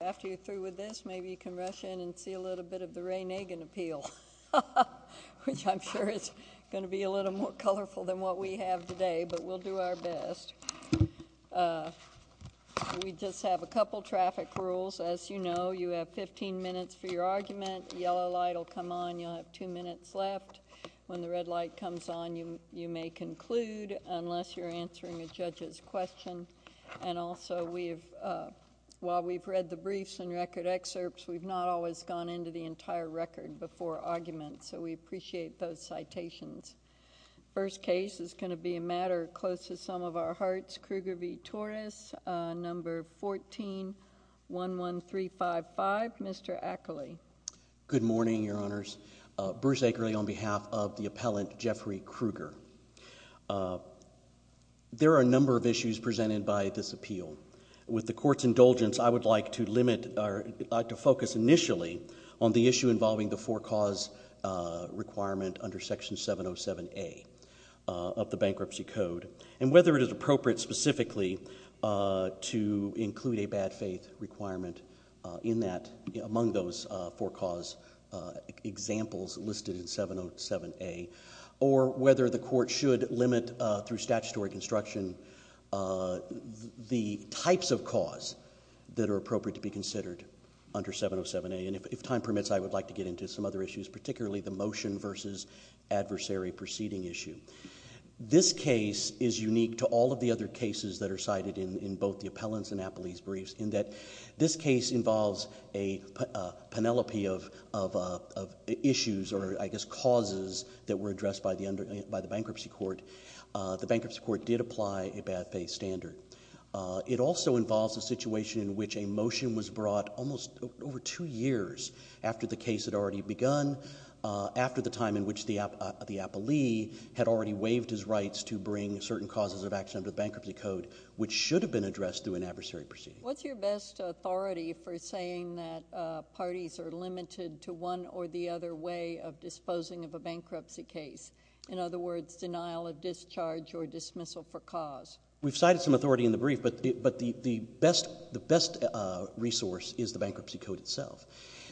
After you're through with this, maybe you can rush in and see a little bit of the Ray Nagin Appeal, which I'm sure is going to be a little more colorful than what we have today, but we'll do our best. We just have a couple traffic rules. As you know, you have 15 minutes for your argument. Yellow light will come on. You'll have two minutes left. When the red light comes on, you may conclude unless you're answering a judge's question. And also, while we've read the briefs and record excerpts, we've not always gone into the entire record before arguments, so we appreciate those citations. First case is going to be a matter close to the sum of our hearts. Krueger v. Torres, number 1411355, Mr. Ackerley. Good morning, Your Honors. Bruce Ackerley on behalf of the appellant Jeffrey Krueger. There are a number of issues presented by this appeal. With the Court's indulgence, I would like to focus initially on the issue involving the for cause requirement under Section 707A of the Bankruptcy Code and whether it is appropriate specifically to include a bad faith requirement among those for cause examples listed in 707A or whether the Court should limit through statutory construction the types of cause that are appropriate to be considered under 707A. And if time permits, I would like to get into some other issues, particularly the motion versus adversary proceeding issue. This case is unique to all of the other cases that are cited in both the appellant's and appellee's briefs in that this case involves a panoply of issues or, I guess, causes that were addressed by the bankruptcy court. The bankruptcy court did apply a bad faith standard. It also involves a situation in which a motion was brought almost over two years after the case had already begun, after the time in which the appellee had already waived his rights to bring certain causes of action under the Bankruptcy Code, which should have been addressed through an adversary proceeding. What's your best authority for saying that parties are limited to one or the other way of disposing of a bankruptcy case? In other words, denial of discharge or dismissal for cause? We've cited some authority in the brief, but the best resource is the Bankruptcy Code itself.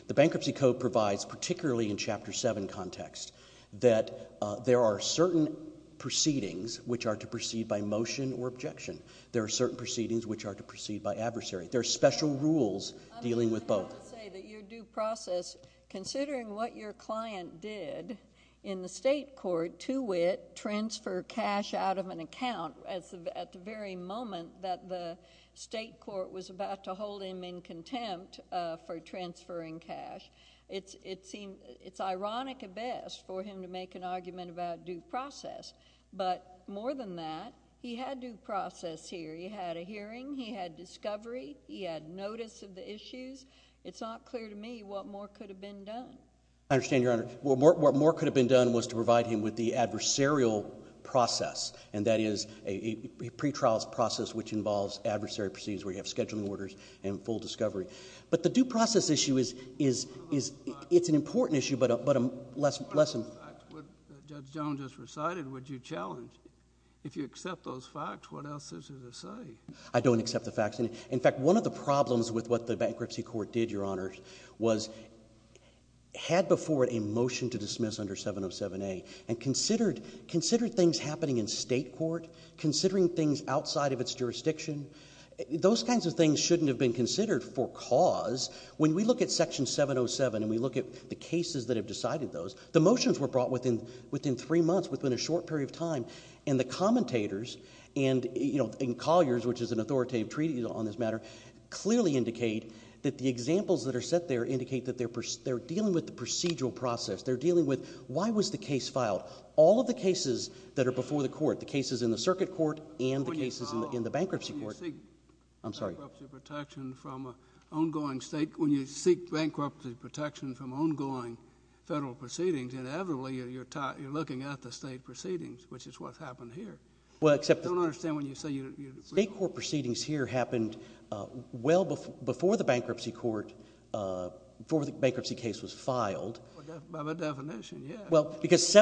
The Bankruptcy Code provides, particularly in Chapter 7 context, that there are certain proceedings which are to proceed by motion or objection. There are certain proceedings which are to proceed by adversary. There are special rules dealing with both. I would say that your due process, considering what your client did in the state court to wit, transfer cash out of an account at the very moment that the state court was about to hold him in contempt for transferring cash, it's ironic at best for him to make an argument about due process. But more than that, he had due process here. He had a hearing. He had discovery. He had notice of the issues. It's not clear to me what more could have been done. I understand, Your Honor. What more could have been done was to provide him with the adversarial process, and that is a pretrial process which involves adversary proceedings where you have scheduling orders and full discovery. But the due process issue is an important issue, but a lesson. The facts that Judge Jones just recited, would you challenge? If you accept those facts, what else is there to say? I don't accept the facts. In fact, one of the problems with what the bankruptcy court did, Your Honor, was had before it a motion to dismiss under 707A and considered things happening in state court, considering things outside of its jurisdiction. Those kinds of things shouldn't have been considered for cause. When we look at Section 707 and we look at the cases that have decided those, the motions were brought within three months, within a short period of time, and the commentators and colliers, which is an authoritative treaty on this matter, clearly indicate that the examples that are set there indicate that they're dealing with the procedural process. They're dealing with why was the case filed. All of the cases that are before the court, the cases in the circuit court and the cases in the bankruptcy court. When you seek bankruptcy protection from an ongoing state, when you seek bankruptcy protection from ongoing federal proceedings, inevitably you're looking at the state proceedings, which is what's happened here. I don't understand when you say you... State court proceedings here happened well before the bankruptcy court, before the bankruptcy case was filed. By my definition, yes. Well, because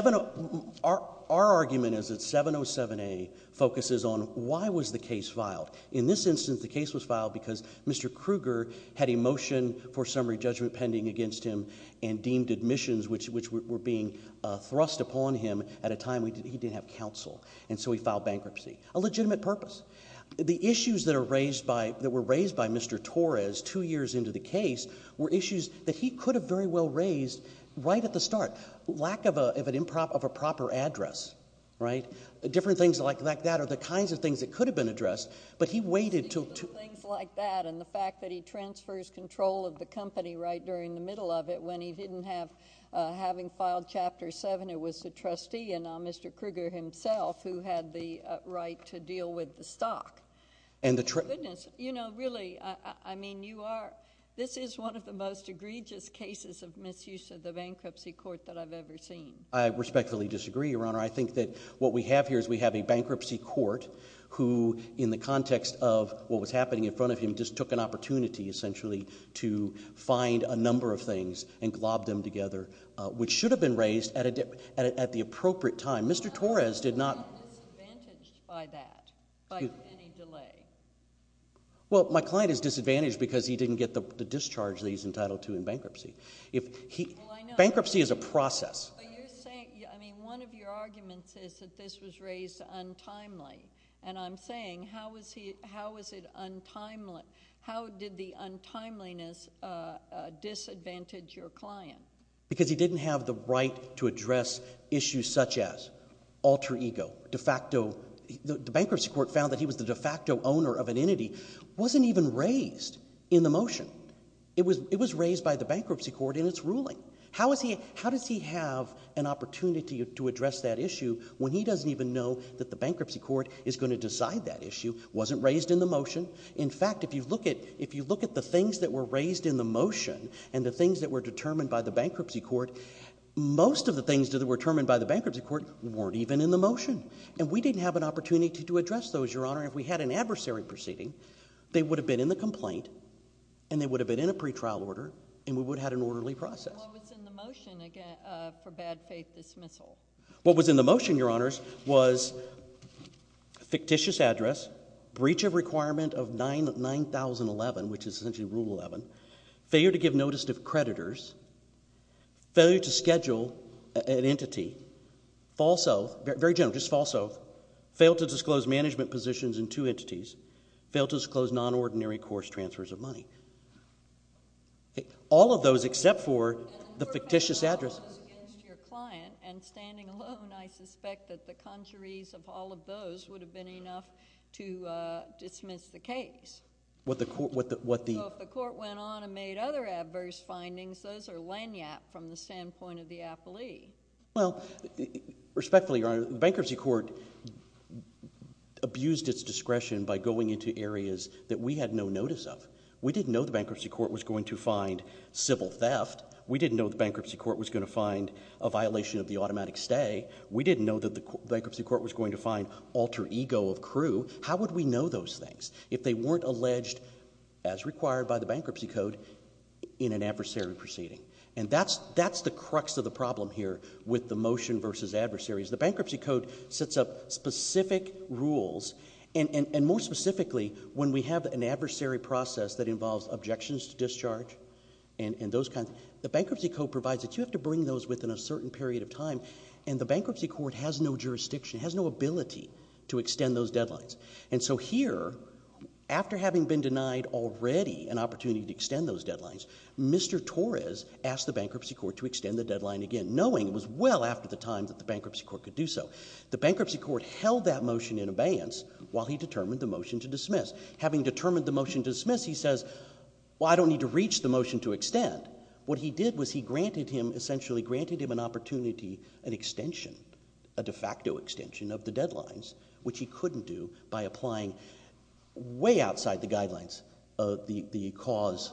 our argument is that 707A focuses on why was the case filed. In this instance, the case was filed because Mr. Kruger had a motion for summary judgment pending against him and deemed admissions, which were being thrust upon him at a time when he didn't have counsel, and so he filed bankruptcy. A legitimate purpose. The issues that were raised by Mr. Torres two years into the case were issues that he could have very well raised right at the start. Lack of a proper address, right? Different things like that are the kinds of things that could have been addressed, but he waited to... When he didn't have... having filed Chapter 7, it was the trustee and Mr. Kruger himself who had the right to deal with the stock. Goodness. You know, really, I mean, you are... This is one of the most egregious cases of misuse of the bankruptcy court that I've ever seen. I respectfully disagree, Your Honor. I think that what we have here is we have a bankruptcy court who, in the context of what was happening in front of him, he just took an opportunity, essentially, to find a number of things and globbed them together, which should have been raised at the appropriate time. Mr. Torres did not... How is he disadvantaged by that, by any delay? Well, my client is disadvantaged because he didn't get the discharge that he's entitled to in bankruptcy. If he... Well, I know. Bankruptcy is a process. Are you saying... I mean, one of your arguments is that this was raised untimely, and I'm saying how is it untimely? How did the untimeliness disadvantage your client? Because he didn't have the right to address issues such as alter ego, de facto... The bankruptcy court found that he was the de facto owner of an entity. It wasn't even raised in the motion. It was raised by the bankruptcy court in its ruling. How is he... How does he have an opportunity to address that issue when he doesn't even know that the bankruptcy court is going to decide that issue? It wasn't raised in the motion. In fact, if you look at the things that were raised in the motion and the things that were determined by the bankruptcy court, most of the things that were determined by the bankruptcy court weren't even in the motion. And we didn't have an opportunity to address those, Your Honor. If we had an adversary proceeding, they would have been in the complaint, and they would have been in a pretrial order, and we would have had an orderly process. What was in the motion for bad faith dismissal? What was in the motion, Your Honors, was a fictitious address, breach of requirement of 9011, which is essentially Rule 11, failure to give notice to creditors, failure to schedule an entity, false oath, very general, just false oath, fail to disclose management positions in two entities, fail to disclose non-ordinary course transfers of money. All of those except for the fictitious address. And the court has all of those against your client, and standing alone, I suspect that the conjurees of all of those would have been enough to dismiss the case. What the court, what the... So if the court went on and made other adverse findings, those are lanyard from the standpoint of the appellee. Well, respectfully, Your Honor, the bankruptcy court abused its discretion by going into areas that we had no notice of. We didn't know the bankruptcy court was going to find civil theft. We didn't know the bankruptcy court was going to find a violation of the automatic stay. We didn't know that the bankruptcy court was going to find alter ego of crew. How would we know those things if they weren't alleged, as required by the bankruptcy code, in an adversary proceeding? And that's the crux of the problem here with the motion versus adversaries. The bankruptcy code sets up specific rules, and more specifically, when we have an adversary process that involves objections to discharge and those kinds, the bankruptcy code provides that you have to bring those within a certain period of time, and the bankruptcy court has no jurisdiction, has no ability to extend those deadlines. And so here, after having been denied already an opportunity to extend those deadlines, Mr. Torres asked the bankruptcy court to extend the deadline again, knowing it was well after the time that the bankruptcy court could do so. The bankruptcy court held that motion in abeyance while he determined the motion to dismiss. Having determined the motion to dismiss, he says, well, I don't need to reach the motion to extend. What he did was he granted him, essentially granted him an opportunity, an extension, a de facto extension of the deadlines, which he couldn't do by applying way outside the guidelines of the cause.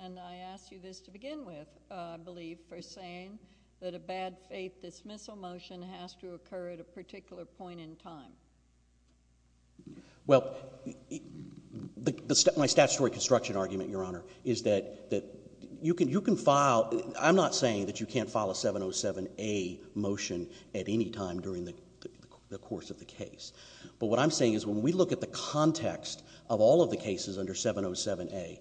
And I ask you this to begin with, I believe, for saying that a bad faith dismissal motion has to occur at a particular point in time. Well, my statutory construction argument, Your Honor, is that you can file... I'm not saying that you can't file a 707A motion at any time during the course of the case. But what I'm saying is when we look at the context of all of the cases under 707A,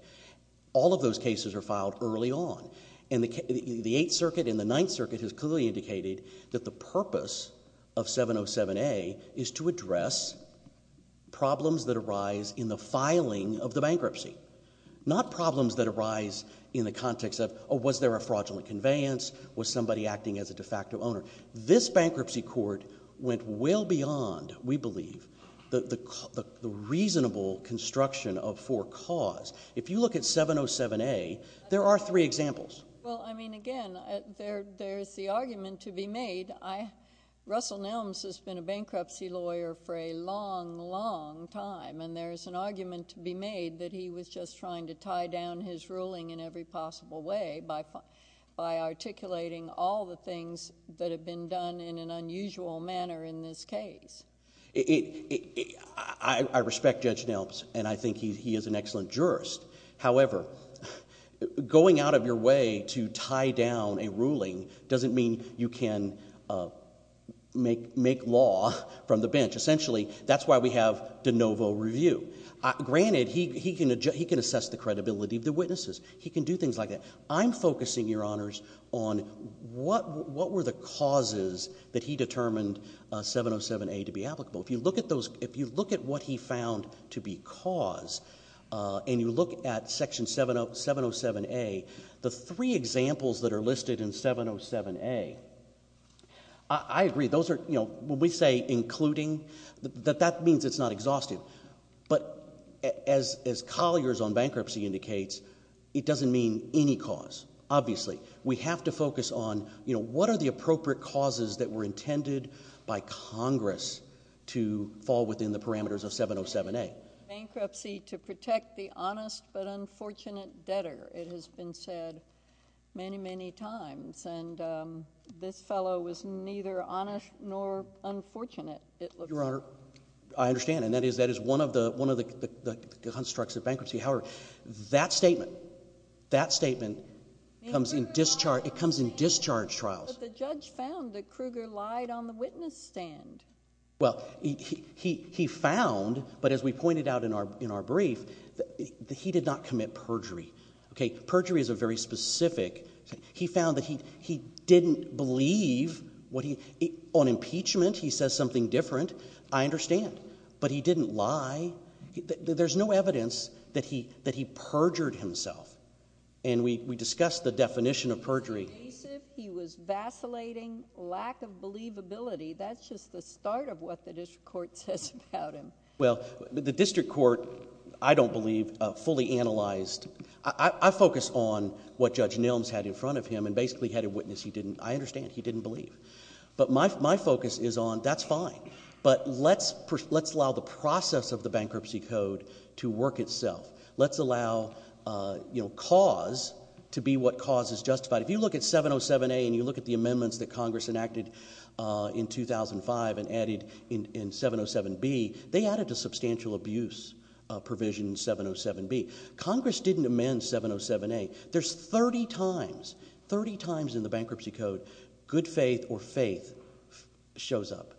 all of those cases are filed early on. And the Eighth Circuit and the Ninth Circuit has clearly indicated that the purpose of 707A is to address problems that arise in the filing of the bankruptcy, not problems that arise in the context of, oh, was there a fraudulent conveyance, was somebody acting as a de facto owner? This bankruptcy court went well beyond, we believe, the reasonable construction of for cause. If you look at 707A, there are three examples. Well, I mean, again, there's the argument to be made. Russell Nelms has been a bankruptcy lawyer for a long, long time, and there's an argument to be made that he was just trying to tie down his ruling in every possible way by articulating all the things that have been done in an unusual manner in this case. I respect Judge Nelms, and I think he is an excellent jurist. However, going out of your way to tie down a ruling doesn't mean you can make law from the bench. Essentially, that's why we have de novo review. Granted, he can assess the credibility of the witnesses. He can do things like that. I'm focusing, Your Honours, on what were the causes that he determined 707A to be applicable. If you look at what he found to be cause and you look at Section 707A, the three examples that are listed in 707A, I agree, when we say including, that means it's not exhaustive. But as Collier's on bankruptcy indicates, it doesn't mean any cause, obviously. We have to focus on what are the appropriate causes that were intended by Congress to fall within the parameters of 707A. Bankruptcy to protect the honest but unfortunate debtor, it has been said many, many times, and this fellow was neither honest nor unfortunate, it looks like. Your Honour, I understand, and that is one of the constructs of bankruptcy. That statement comes in discharge trials. But the judge found that Kruger lied on the witness stand. Well, he found, but as we pointed out in our brief, that he did not commit perjury. Perjury is a very specific... He found that he didn't believe... On impeachment, he says something different, I understand, but he didn't lie. There's no evidence that he perjured himself. And we discussed the definition of perjury. He was evasive, he was vacillating, lack of believability. That's just the start of what the district court says about him. Well, the district court, I don't believe, fully analysed... I focus on what Judge Nils had in front of him and basically had a witness he didn't... I understand, he didn't believe. But my focus is on, that's fine, but let's allow the process of the Bankruptcy Code to work itself. Let's allow cause to be what cause is justified. If you look at 707A and you look at the amendments that Congress enacted in 2005 and added in 707B, they added a substantial abuse provision in 707B. Congress didn't amend 707A. There's 30 times, 30 times in the Bankruptcy Code, good faith or faith shows up.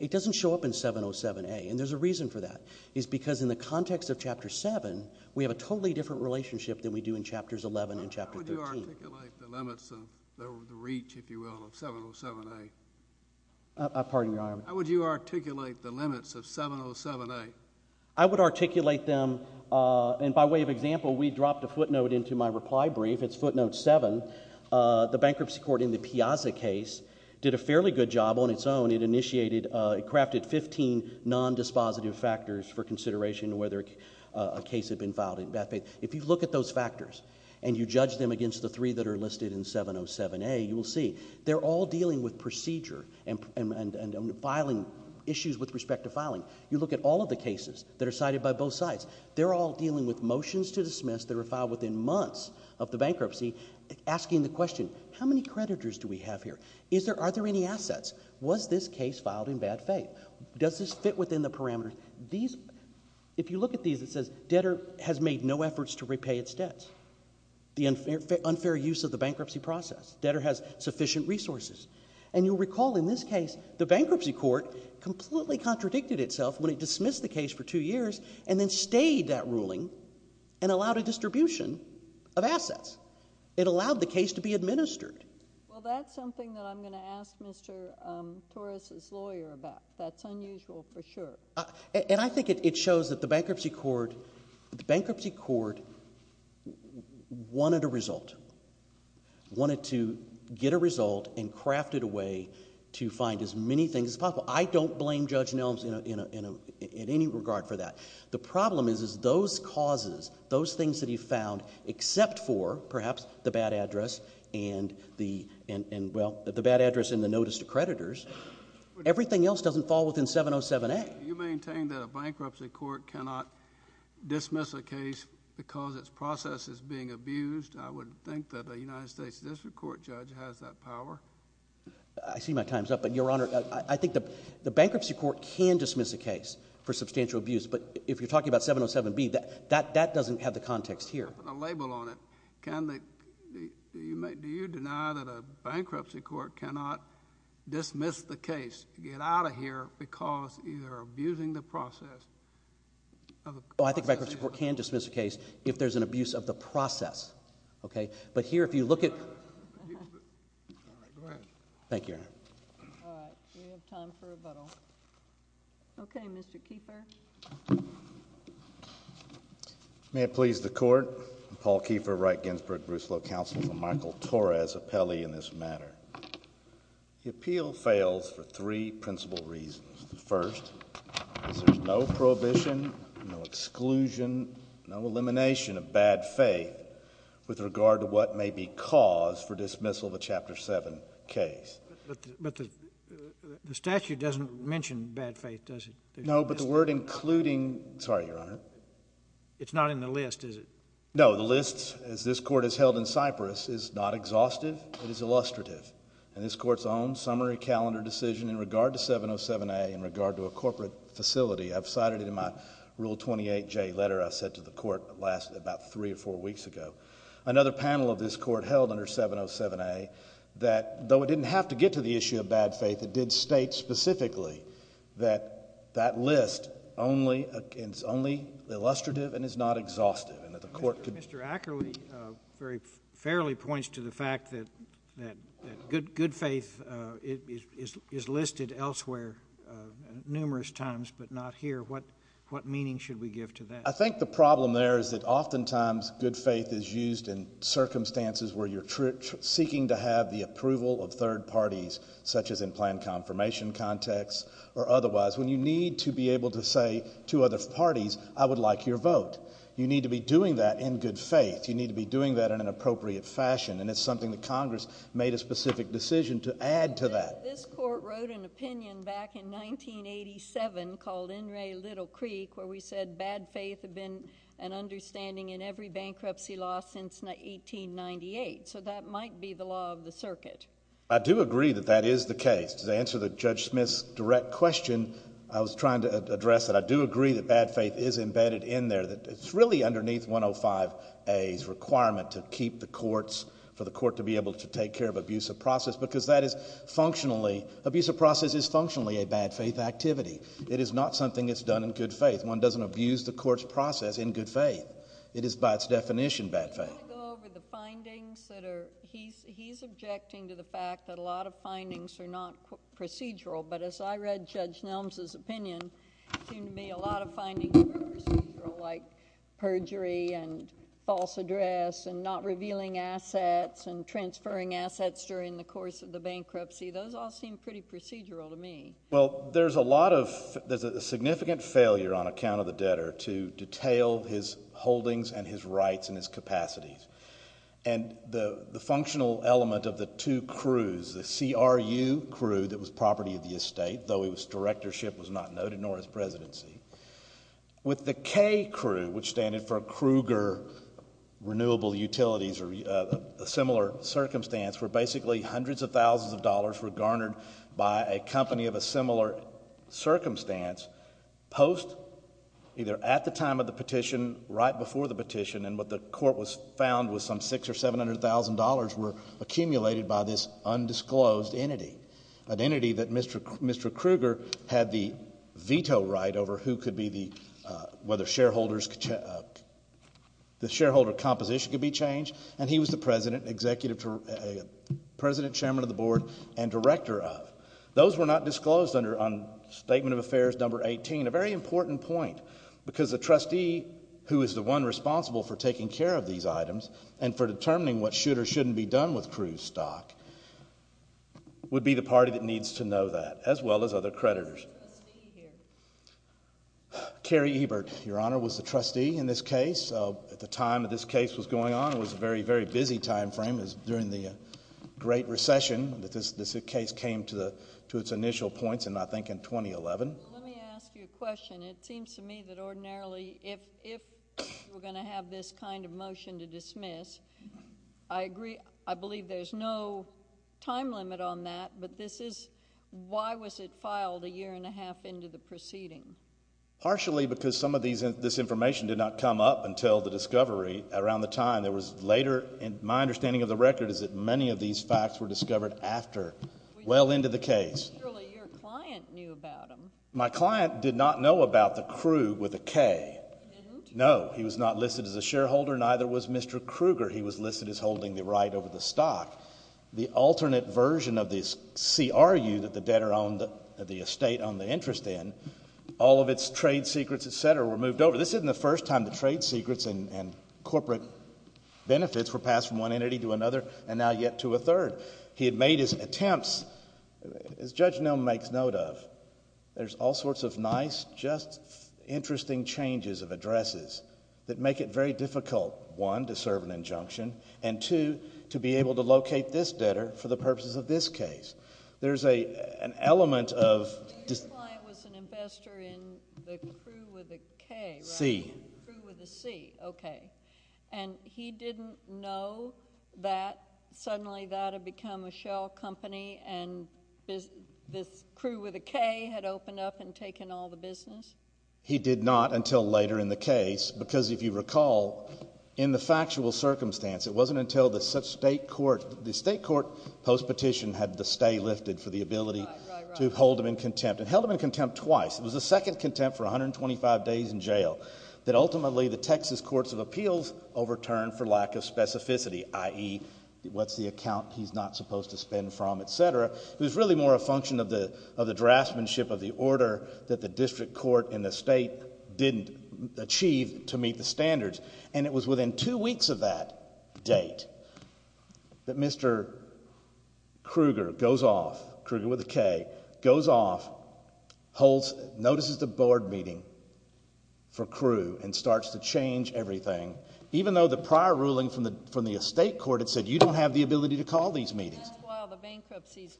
It doesn't show up in 707A, and there's a reason for that. It's because in the context of Chapter 7, we have a totally different relationship than we do in Chapters 11 and Chapter 13. How would you articulate the limits of the reach, if you will, of 707A? Pardon me, Your Honour. How would you articulate the limits of 707A? I would articulate them... And by way of example, we dropped a footnote into my reply brief. It's footnote 7. The bankruptcy court in the Piazza case did a fairly good job on its own. It crafted 15 non-dispositive factors for consideration whether a case had been filed in bad faith. If you look at those factors and you judge them against the three that are listed in 707A, you will see they're all dealing with procedure and filing issues with respect to filing. You look at all of the cases that are cited by both sides. They're all dealing with motions to dismiss that are filed within months of the bankruptcy, asking the question, how many creditors do we have here? Are there any assets? Was this case filed in bad faith? Does this fit within the parameters? If you look at these, it says, debtor has made no efforts to repay its debts. The unfair use of the bankruptcy process. Debtor has sufficient resources. And you'll recall in this case, the bankruptcy court completely contradicted itself when it dismissed the case for two years and then stayed that ruling and allowed a distribution of assets. It allowed the case to be administered. Well, that's something that I'm going to ask Mr. Torres's lawyer about. That's unusual for sure. And I think it shows that the bankruptcy court... The bankruptcy court wanted a result. Wanted to get a result and crafted a way to find as many things as possible. I don't blame Judge Nelms in any regard for that. The problem is those causes, those things that he found, except for, perhaps, the bad address and, well, the bad address and the notice to creditors, everything else doesn't fall within 707A. You maintain that a bankruptcy court cannot dismiss a case because its process is being abused. I would think that a United States District Court judge has that power. I see my time's up, but, Your Honor, I think the bankruptcy court can dismiss a case for substantial abuse, but if you're talking about 707B, that doesn't have the context here. It doesn't have a label on it. Can the... Do you deny that a bankruptcy court cannot dismiss the case, get out of here because you're abusing the process? Oh, I think bankruptcy court can dismiss a case if there's an abuse of the process, okay? But here, if you look at... All right, go ahead. Thank you, Your Honor. All right, we have time for rebuttal. Okay, Mr. Keefer. May it please the Court, I'm Paul Keefer, Wright-Ginsburg-Brusselow Counsel for Michael Torres, appellee in this matter. The appeal fails for three principal reasons. The first is there's no prohibition, no exclusion, no elimination of bad faith with regard to what may be cause for dismissal of a Chapter 7 case. But the statute doesn't mention bad faith, does it? No, but the word including... Sorry, Your Honor. It's not in the list, is it? No, the list, as this Court has held in Cyprus, is not exhaustive, it is illustrative. And this Court's own summary calendar decision in regard to 707A, in regard to a corporate facility, I've cited it in my Rule 28J letter I sent to the Court about three or four weeks ago. Another panel of this Court held under 707A that though it didn't have to get to the issue of bad faith, it did state specifically that that list is only illustrative and is not exhaustive. Mr. Ackerley fairly points to the fact that good faith is listed elsewhere numerous times but not here. What meaning should we give to that? I think the problem there is that oftentimes good faith is used in circumstances where you're seeking to have the approval of third parties, such as in planned confirmation contexts or otherwise, when you need to be able to say to other parties, I would like your vote. You need to be doing that in good faith. You need to be doing that in an appropriate fashion, and it's something that Congress made a specific decision to add to that. This Court wrote an opinion back in 1987 called N. Ray Little Creek, where we said bad faith had been an understanding in every bankruptcy law since 1898, so that might be the law of the circuit. I do agree that that is the case. To answer Judge Smith's direct question, I was trying to address that I do agree that bad faith is embedded in there. It's really underneath 105A's requirement to keep the courts, for the court to be able to take care of abusive process because that is functionally, abusive process is functionally a bad faith activity. It is not something that's done in good faith. One doesn't abuse the court's process in good faith. It is by its definition bad faith. Do you want to go over the findings that are, he's objecting to the fact that a lot of findings are not procedural, but as I read Judge Nelms' opinion, it seemed to me a lot of findings were procedural, like perjury and false address and not revealing assets and transferring assets during the course of the bankruptcy. Those all seem pretty procedural to me. Well, there's a lot of, there's a significant failure on account of the debtor to detail his holdings and his rights and his capacities, and the functional element of the two crews, the CRU crew that was property of the estate, though his directorship was not noted, nor his presidency, with the K crew, which standed for Kruger Renewable Utilities or a similar circumstance where basically hundreds of thousands of dollars were garnered by a company of a similar circumstance post, either at the time of the petition, right before the petition, and what the court was found was some $600,000 or $700,000 were accumulated by this undisclosed entity, an entity that Mr. Kruger had the veto right over who could be the, whether the shareholder composition could be changed, and he was the president, executive, president, chairman of the board, and director of. Those were not disclosed under Statement of Affairs No. 18, a very important point, because the trustee who is the one responsible for taking care of these items and for determining what should or shouldn't be done with Kruger's stock would be the party that needs to know that, as well as other creditors. Who was the trustee here? Carrie Ebert, Your Honor, was the trustee in this case. At the time that this case was going on, it was a very, very busy time frame. It was during the Great Recession that this case came to its initial points, and I think in 2011. Let me ask you a question. It seems to me that ordinarily, if you were going to have this kind of motion to dismiss, I agree, I believe there's no time limit on that, but this is, why was it filed a year and a half into the proceeding? Partially because some of this information did not come up until the discovery around the time. There was later, and my understanding of the record is that many of these facts were discovered after, well into the case. Surely your client knew about them. My client did not know about the Krug with a K. No, he was not listed as a shareholder, neither was Mr. Kruger. He was listed as holding the right over the stock. The alternate version of this CRU that the debtor owned the estate on the interest in, all of its trade secrets, et cetera, were moved over. This isn't the first time the trade secrets and corporate benefits were passed from one entity to another, and now yet to a third. He had made his attempts, as Judge Nelm makes note of, there's all sorts of nice, just interesting changes of addresses that make it very difficult, one, to serve an injunction, and two, to be able to locate this debtor for the purposes of this case. There's an element of... Your client was an investor in the KRU with a K, right? C. KRU with a C, okay. And he didn't know that suddenly that had become a shell company and this KRU with a K had opened up and taken all the business? He did not until later in the case, because if you recall, in the factual circumstance, it wasn't until the state court post-petition had the stay lifted for the ability to hold him in contempt. It held him in contempt twice. It was the second contempt for 125 days in jail that ultimately the Texas Courts of Appeals overturned for lack of specificity, i.e., what's the account he's not supposed to spend from, etc. It was really more a function of the draftsmanship of the order that the district court and the state didn't achieve to meet the standards. And it was within two weeks of that date that Mr. Kruger goes off, Kruger with a K, goes off, notices the board meeting for KRU, and starts to change everything, even though the prior ruling from the estate court had said you don't have the ability to call these meetings.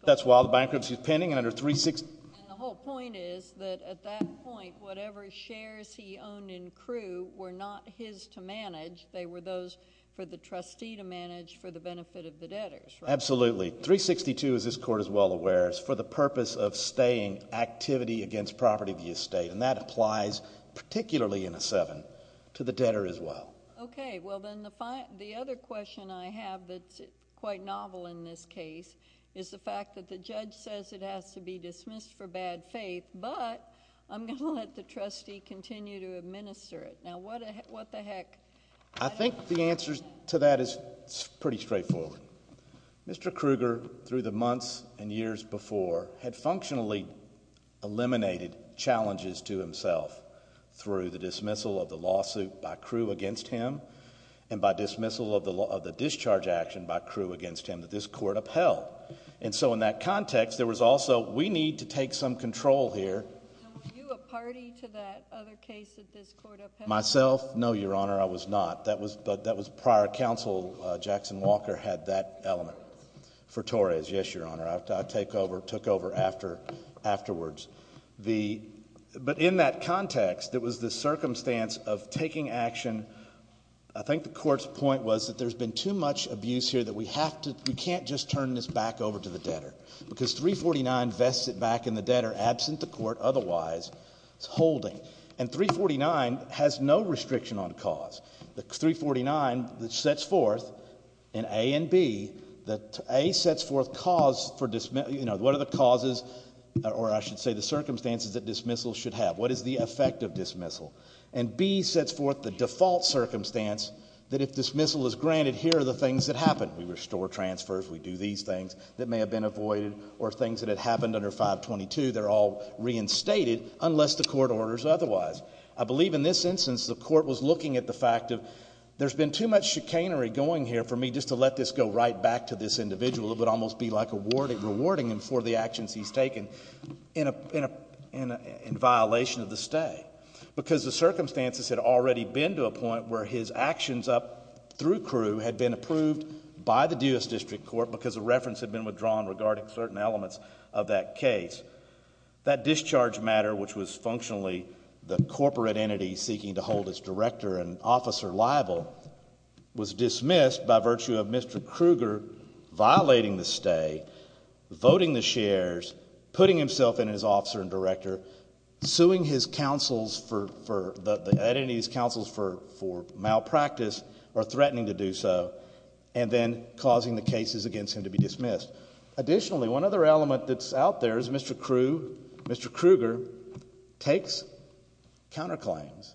That's while the bankruptcy's pending. And the whole point is that at that point, whatever shares he owned in KRU were not his to manage. They were those for the trustee to manage for the benefit of the debtors, right? Absolutely. 362, as this court is well aware, is for the purpose of staying activity against property of the estate, and that applies particularly in a 7 to the debtor as well. Okay. Well, then the other question I have that's quite novel in this case is the fact that the judge says it has to be dismissed for bad faith, but I'm going to let the trustee continue to administer it. Now, what the heck... I think the answer to that is pretty straightforward. Mr. Kruger, through the months and years before, had functionally eliminated challenges to himself through the dismissal of the lawsuit by KRU against him and by dismissal of the discharge action by KRU against him that this court upheld. And so in that context, there was also, we need to take some control here. Now, were you a party to that other case that this court upheld? Myself? No, Your Honor, I was not. But that was prior counsel, Jackson Walker, had that element for Torres. Yes, Your Honor, I took over afterwards. But in that context, it was the circumstance of taking action. I think the court's point was that there's been too much abuse here that we can't just turn this back over to the debtor because 349 vests it back in the debtor, absent the court otherwise holding. And 349 has no restriction on cause. The 349 that sets forth in A and B, that A sets forth what are the causes or I should say the circumstances that dismissal should have. What is the effect of dismissal? And B sets forth the default circumstance that if dismissal is granted, here are the things that happen. We restore transfers, we do these things that may have been avoided or things that had happened under 522, they're all reinstated unless the court orders otherwise. I believe in this instance the court was looking at the fact of there's been too much chicanery going here for me and just to let this go right back to this individual, it would almost be like rewarding him for the actions he's taken in violation of the stay. Because the circumstances had already been to a point where his actions up through Crewe had been approved by the Duis District Court because a reference had been withdrawn regarding certain elements of that case. That discharge matter, which was functionally the corporate entity seeking to hold its director and officer liable, was dismissed by virtue of Mr. Kruger violating the stay, voting the shares, putting himself in as officer and director, suing the entity's counsels for malpractice or threatening to do so, and then causing the cases against him to be dismissed. Additionally, one other element that's out there is Mr. Kruger takes counterclaims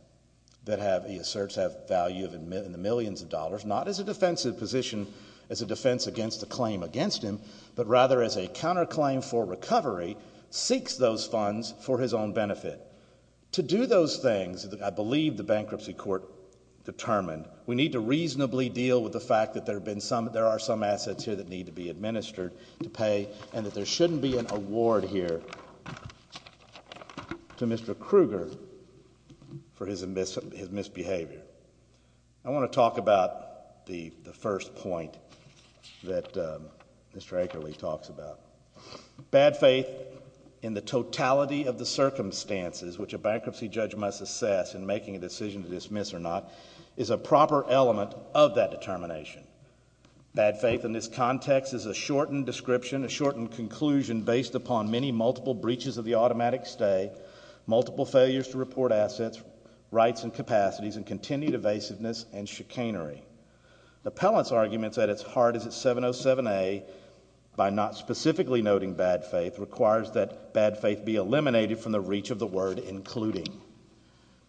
that he asserts have value in the millions of dollars, not as a defensive position, as a defense against a claim against him, but rather as a counterclaim for recovery, seeks those funds for his own benefit. To do those things, I believe the bankruptcy court determined, we need to reasonably deal with the fact that there are some assets here that need to be administered to pay and that there shouldn't be an award here to Mr. Kruger for his misbehavior. I want to talk about the first point that Mr. Akerle talks about. Bad faith in the totality of the circumstances which a bankruptcy judge must assess in making a decision to dismiss or not is a proper element of that determination. Bad faith in this context is a shortened description, a shortened conclusion based upon many multiple breaches of the automatic stay, multiple failures to report assets, rights and capacities, and continued evasiveness and chicanery. The appellant's arguments at its heart is that 707A, by not specifically noting bad faith, requires that bad faith be eliminated from the reach of the word including.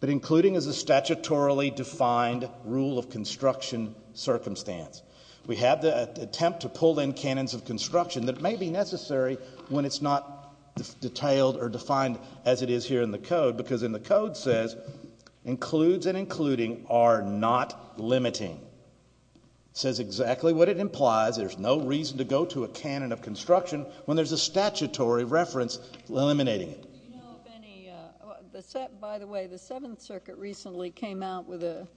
But including is a statutorily defined rule of construction circumstance. We have the attempt to pull in canons of construction that may be necessary when it's not detailed or defined as it is here in the Code, because in the Code it says includes and including are not limiting. It says exactly what it implies. There's no reason to go to a canon of construction when there's a statutory reference eliminating it. By the way, the Seventh Circuit recently came out with a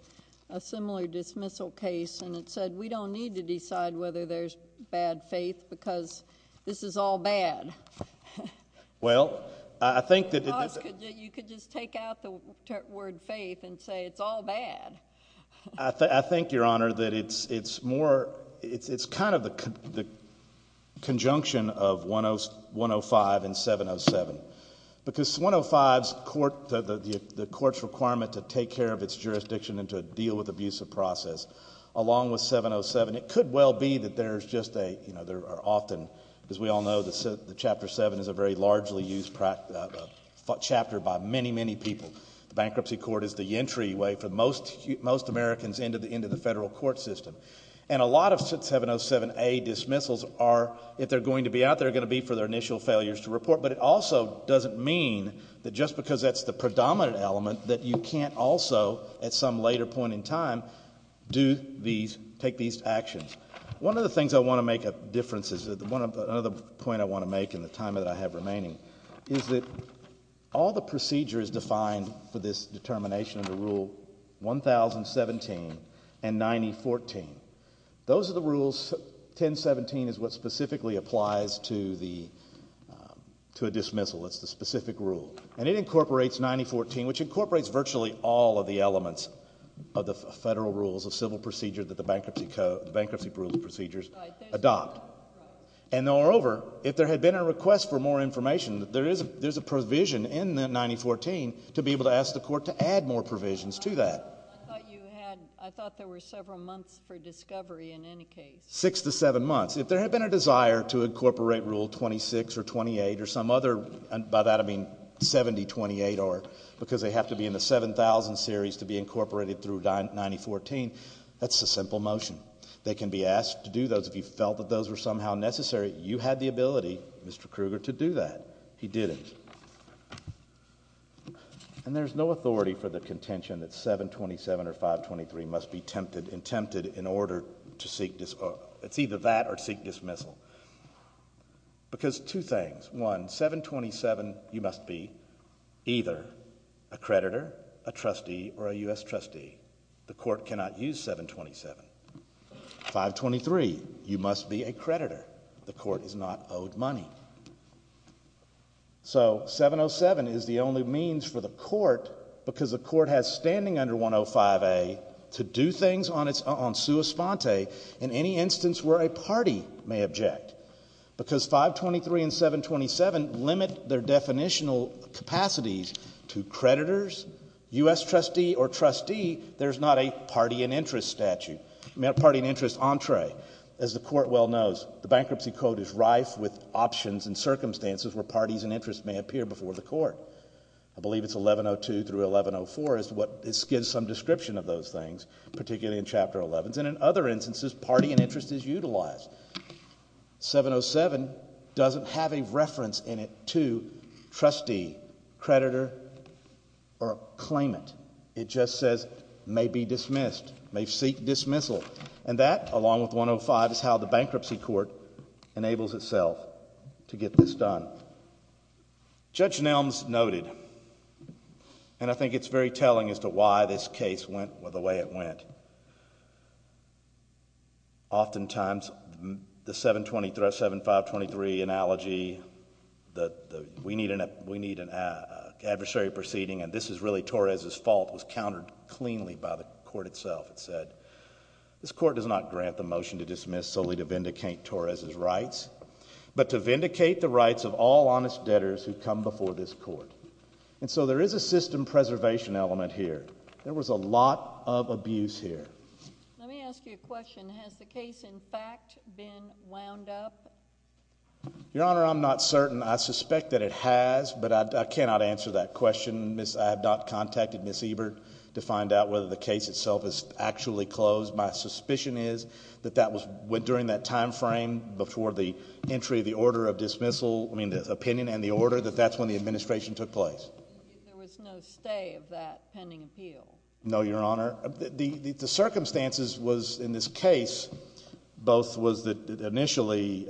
similar dismissal case and it said we don't need to decide whether there's bad faith because this is all bad. Well, I think that it is. You could just take out the word faith and say it's all bad. I think, Your Honor, that it's more, it's kind of the conjunction of 105 and 707, because 105, the court's requirement to take care of its jurisdiction and to deal with abuse of process, along with 707, it could well be that there's just a, you know, there are often, as we all know, the Chapter 7 is a very largely used chapter by many, many people. The bankruptcy court is the entryway for most Americans into the federal court system. And a lot of 707A dismissals are, if they're going to be out, they're going to be for their initial failures to report, but it also doesn't mean that just because that's the predominant element that you can't also, at some later point in time, do these, take these actions. One of the things I want to make a difference is, another point I want to make in the time that I have remaining, is that all the procedures defined for this determination of the Rule 1017 and 9014, those are the rules, 1017 is what specifically applies to a dismissal. It's the specific rule. And it incorporates 9014, which incorporates virtually all of the elements of the federal rules of civil procedure that the bankruptcy procedures adopt. And moreover, if there had been a request for more information, there is a provision in 9014 to be able to ask the court to add more provisions to that. I thought you had, I thought there were several months for discovery in any case. Six to seven months. If there had been a desire to incorporate Rule 26 or 28 or some other, and by that I mean 7028 or, because they have to be in the 7000 series to be incorporated through 9014, that's a simple motion. They can be asked to do those. If you felt that those were somehow necessary, you had the ability, Mr. Kruger, to do that. He didn't. And there's no authority for the contention that 727 or 523 must be tempted and tempted in order to seek, it's either that or seek dismissal. Because two things. One, 727 you must be either a creditor, a trustee, or a U.S. trustee. The court cannot use 727. 523, you must be a creditor. The court is not owed money. So 707 is the only means for the court, because the court has standing under 105A, to do things on sua sponte in any instance where a party may object. Because 523 and 727 limit their definitional capacities to creditors, U.S. trustee or trustee, there's not a party and interest statute, party and interest entree. As the court well knows, the Bankruptcy Code is rife with options and circumstances I believe it's 1102 through 1104 is what gives some description of those things, particularly in Chapter 11. And in other instances, party and interest is utilized. 707 doesn't have a reference in it to trustee, creditor, or claimant. It just says may be dismissed, may seek dismissal. And that, along with 105, is how the Bankruptcy Court enables itself to get this done. Judge Nelms noted, and I think it's very telling as to why this case went the way it went. Oftentimes, the 7523 analogy, we need an adversary proceeding and this is really Torres' fault, was countered cleanly by the court itself. It said, this court does not grant the motion to dismiss solely to vindicate Torres' rights, but to vindicate the rights of all honest debtors who come before this court. And so there is a system preservation element here. There was a lot of abuse here. Let me ask you a question. Has the case, in fact, been wound up? Your Honor, I'm not certain. I suspect that it has, but I cannot answer that question. I have not contacted Ms. Ebert to find out whether the case itself is actually closed. My suspicion is that that went during that time frame before the entry of the order of dismissal, I mean, the opinion and the order, that that's when the administration took place. There was no stay of that pending appeal? No, Your Honor. The circumstances was, in this case, both was that initially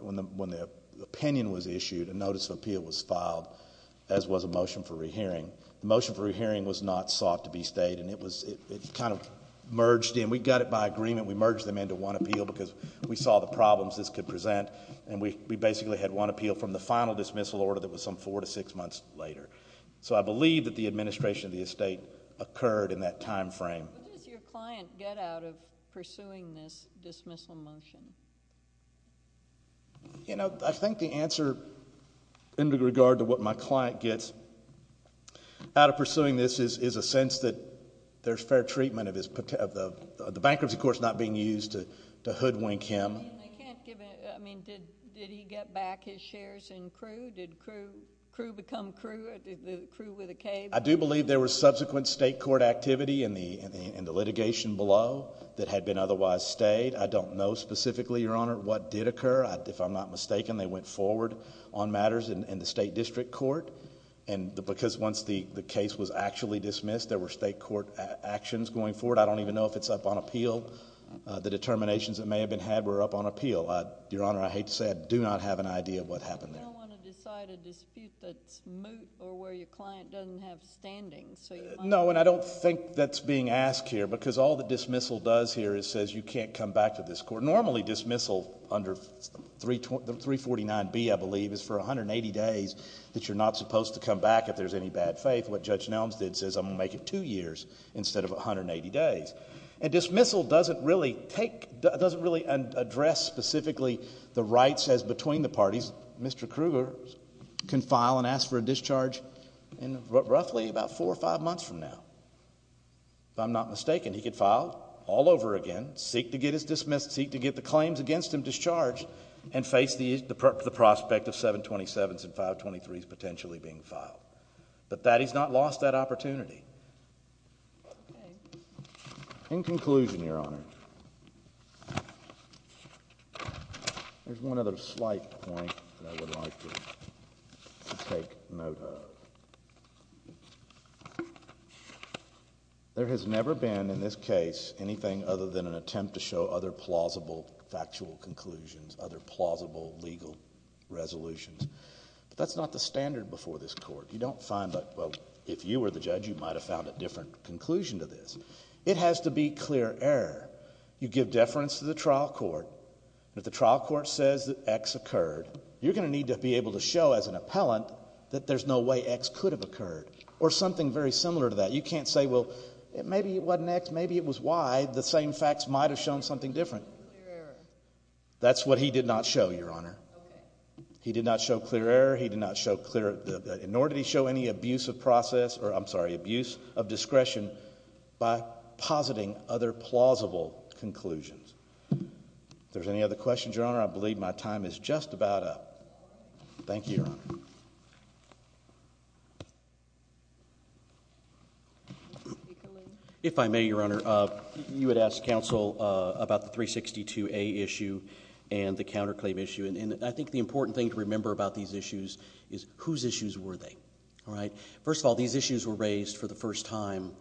when the opinion was issued, a notice of appeal was filed, as was a motion for rehearing. The motion for rehearing was not sought to be stayed and it kind of merged in. We got it by agreement. We merged them into one appeal because we saw the problems this could present, and we basically had one appeal from the final dismissal order that was some four to six months later. So I believe that the administration of the estate occurred in that time frame. What does your client get out of pursuing this dismissal motion? You know, I think the answer, in regard to what my client gets out of pursuing this, is a sense that there's fair treatment of the bankruptcy court's not being used to hoodwink him. I mean, did he get back his shares in Crewe? Did Crewe become Crewe with a K? I do believe there was subsequent state court activity in the litigation below that had been otherwise stayed. I don't know specifically, Your Honor, what did occur. If I'm not mistaken, they went forward on matters in the state district court, and because once the case was actually dismissed, there were state court actions going forward. I don't even know if it's up on appeal. The determinations that may have been had were up on appeal. Your Honor, I hate to say I do not have an idea of what happened there. You don't want to decide a dispute that's moot or where your client doesn't have standing. No, and I don't think that's being asked here because all the dismissal does here is says you can't come back to this court. Normally dismissal under 349B, I believe, is for 180 days that you're not supposed to come back if there's any bad faith. What Judge Nelms did says I'm going to make it two years instead of 180 days. And dismissal doesn't really address specifically the rights as between the parties. Mr. Kruger can file and ask for a discharge in roughly about four or five months from now, if I'm not mistaken. He could file all over again, seek to get his dismissal, seek to get the claims against him discharged, and face the prospect of 727s and 523s potentially being filed. But he's not lost that opportunity. In conclusion, Your Honor, there's one other slight point that I would like to take note of. There has never been in this case anything other than an attempt to show other plausible factual conclusions, other plausible legal resolutions. But that's not the standard before this court. You don't find that, well, if you were the judge, you might have found a different conclusion to this. It has to be clear error. You give deference to the trial court, and if the trial court says that X occurred, you're going to need to be able to show as an appellant that there's no way X could have occurred, or something very similar to that. You can't say, well, maybe it wasn't X, maybe it was Y. The same facts might have shown something different. That's what he did not show, Your Honor. He did not show clear error. He did not show clear – nor did he show any abuse of process – I'm sorry, abuse of discretion by positing other plausible conclusions. If there's any other questions, Your Honor, I believe my time is just about up. Thank you, Your Honor. If I may, Your Honor, you had asked counsel about the 362A issue and the counterclaim issue, and I think the important thing to remember about these issues is whose issues were they. First of all, these issues were raised for the first time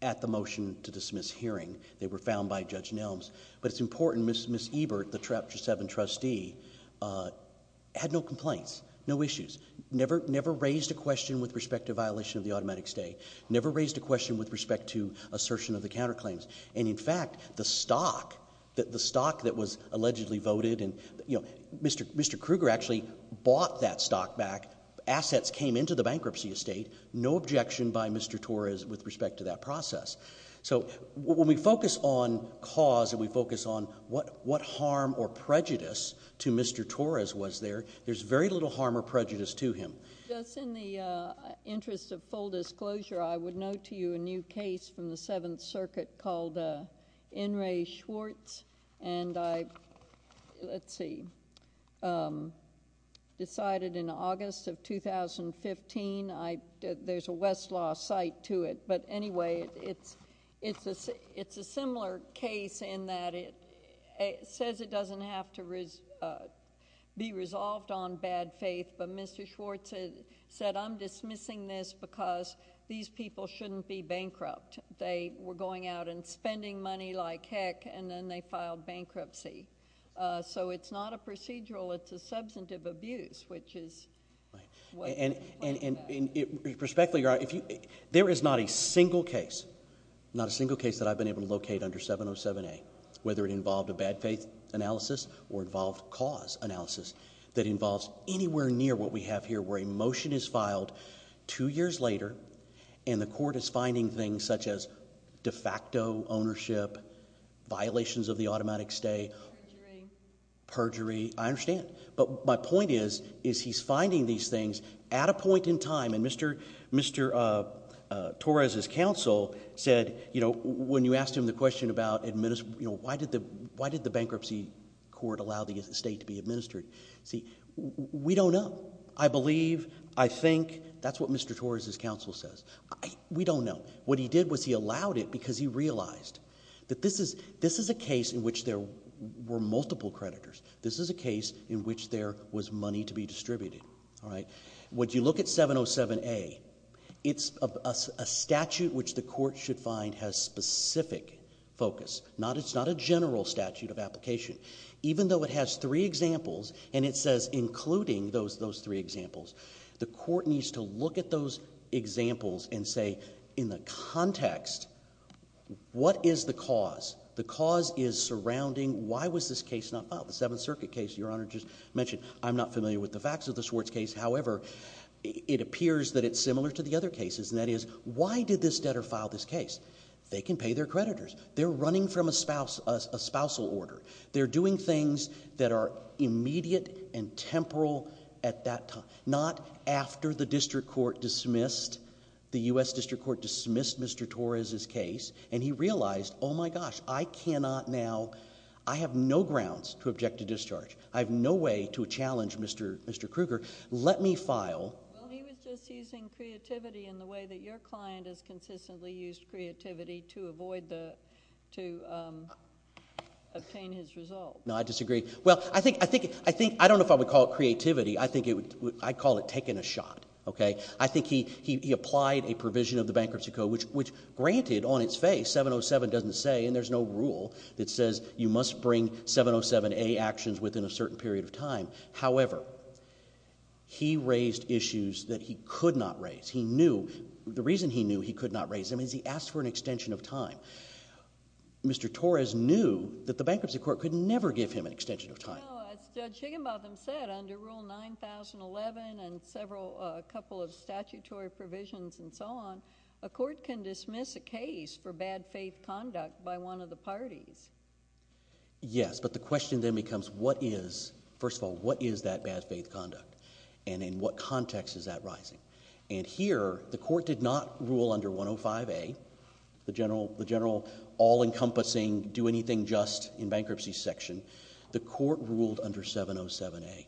at the motion to dismiss hearing. They were found by Judge Nelms. But it's important, Ms. Ebert, the Chapter 7 trustee, had no complaints, no issues, never raised a question with respect to violation of the automatic stay, never raised a question with respect to assertion of the counterclaims. And, in fact, the stock that was allegedly voted – Mr. Kruger actually bought that stock back. Assets came into the bankruptcy estate. No objection by Mr. Torres with respect to that process. So when we focus on cause and we focus on what harm or prejudice to Mr. Torres was there, there's very little harm or prejudice to him. Just in the interest of full disclosure, I would note to you a new case from the Seventh Circuit called N. Ray Schwartz, and I – let's see – decided in August of 2015. There's a Westlaw site to it. But, anyway, it's a similar case in that it says it doesn't have to be resolved on bad faith, but Mr. Schwartz said, I'm dismissing this because these people shouldn't be bankrupt. They were going out and spending money like heck, and then they filed bankruptcy. So it's not a procedural. And, respectfully, Your Honor, there is not a single case, not a single case that I've been able to locate under 707A, whether it involved a bad faith analysis or involved cause analysis, that involves anywhere near what we have here where a motion is filed two years later and the court is finding things such as de facto ownership, violations of the automatic stay. Perjury. Perjury. I understand. But my point is he's finding these things at a point in time, and Mr. Torres' counsel said, you know, when you asked him the question about why did the bankruptcy court allow the estate to be administered? See, we don't know. I believe, I think, that's what Mr. Torres' counsel says. We don't know. What he did was he allowed it because he realized that this is a case in which there were multiple creditors. This is a case in which there was money to be distributed. When you look at 707A, it's a statute which the court should find has specific focus. It's not a general statute of application. Even though it has three examples and it says including those three examples, the court needs to look at those examples and say, in the context, what is the cause? The cause is surrounding why was this case not filed, the Seventh Circuit case Your Honor just mentioned. I'm not familiar with the facts of the Swartz case. However, it appears that it's similar to the other cases, and that is why did this debtor file this case? They can pay their creditors. They're running from a spousal order. They're doing things that are immediate and temporal at that time, not after the district court dismissed, the U.S. district court dismissed Mr. Torres' case, and he realized, oh my gosh, I cannot now, I have no grounds to object to discharge. I have no way to challenge Mr. Krueger. Let me file. Well, he was just using creativity in the way that your client has consistently used creativity to avoid the, to obtain his result. No, I disagree. Well, I think, I think, I think, I don't know if I would call it creativity. I think it would, I'd call it taking a shot. Okay? I think he applied a provision of the Bankruptcy Code, which granted, on its face, 707 doesn't say, and there's no rule that says you must bring 707A actions within a certain period of time. However, he raised issues that he could not raise. He knew, the reason he knew he could not raise them is he asked for an extension of time. Mr. Torres knew that the Bankruptcy Court could never give him an extension of time. No, as Judge Higginbotham said, under Rule 9011 and several, a couple of statutory provisions and so on, a court can dismiss a case for bad faith conduct by one of the parties. Yes, but the question then becomes what is, first of all, what is that bad faith conduct? And in what context is that rising? And here, the court did not rule under 105A, the general, the general all encompassing do anything just in bankruptcy section. The court ruled under 707A.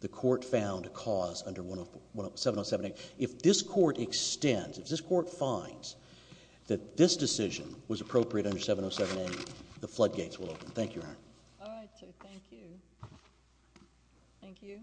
The court found a cause under 707A. If this court extends, if this court finds that this decision was appropriate under 707A, the floodgates will open. Thank you, Your Honor. All right, so thank you. Thank you.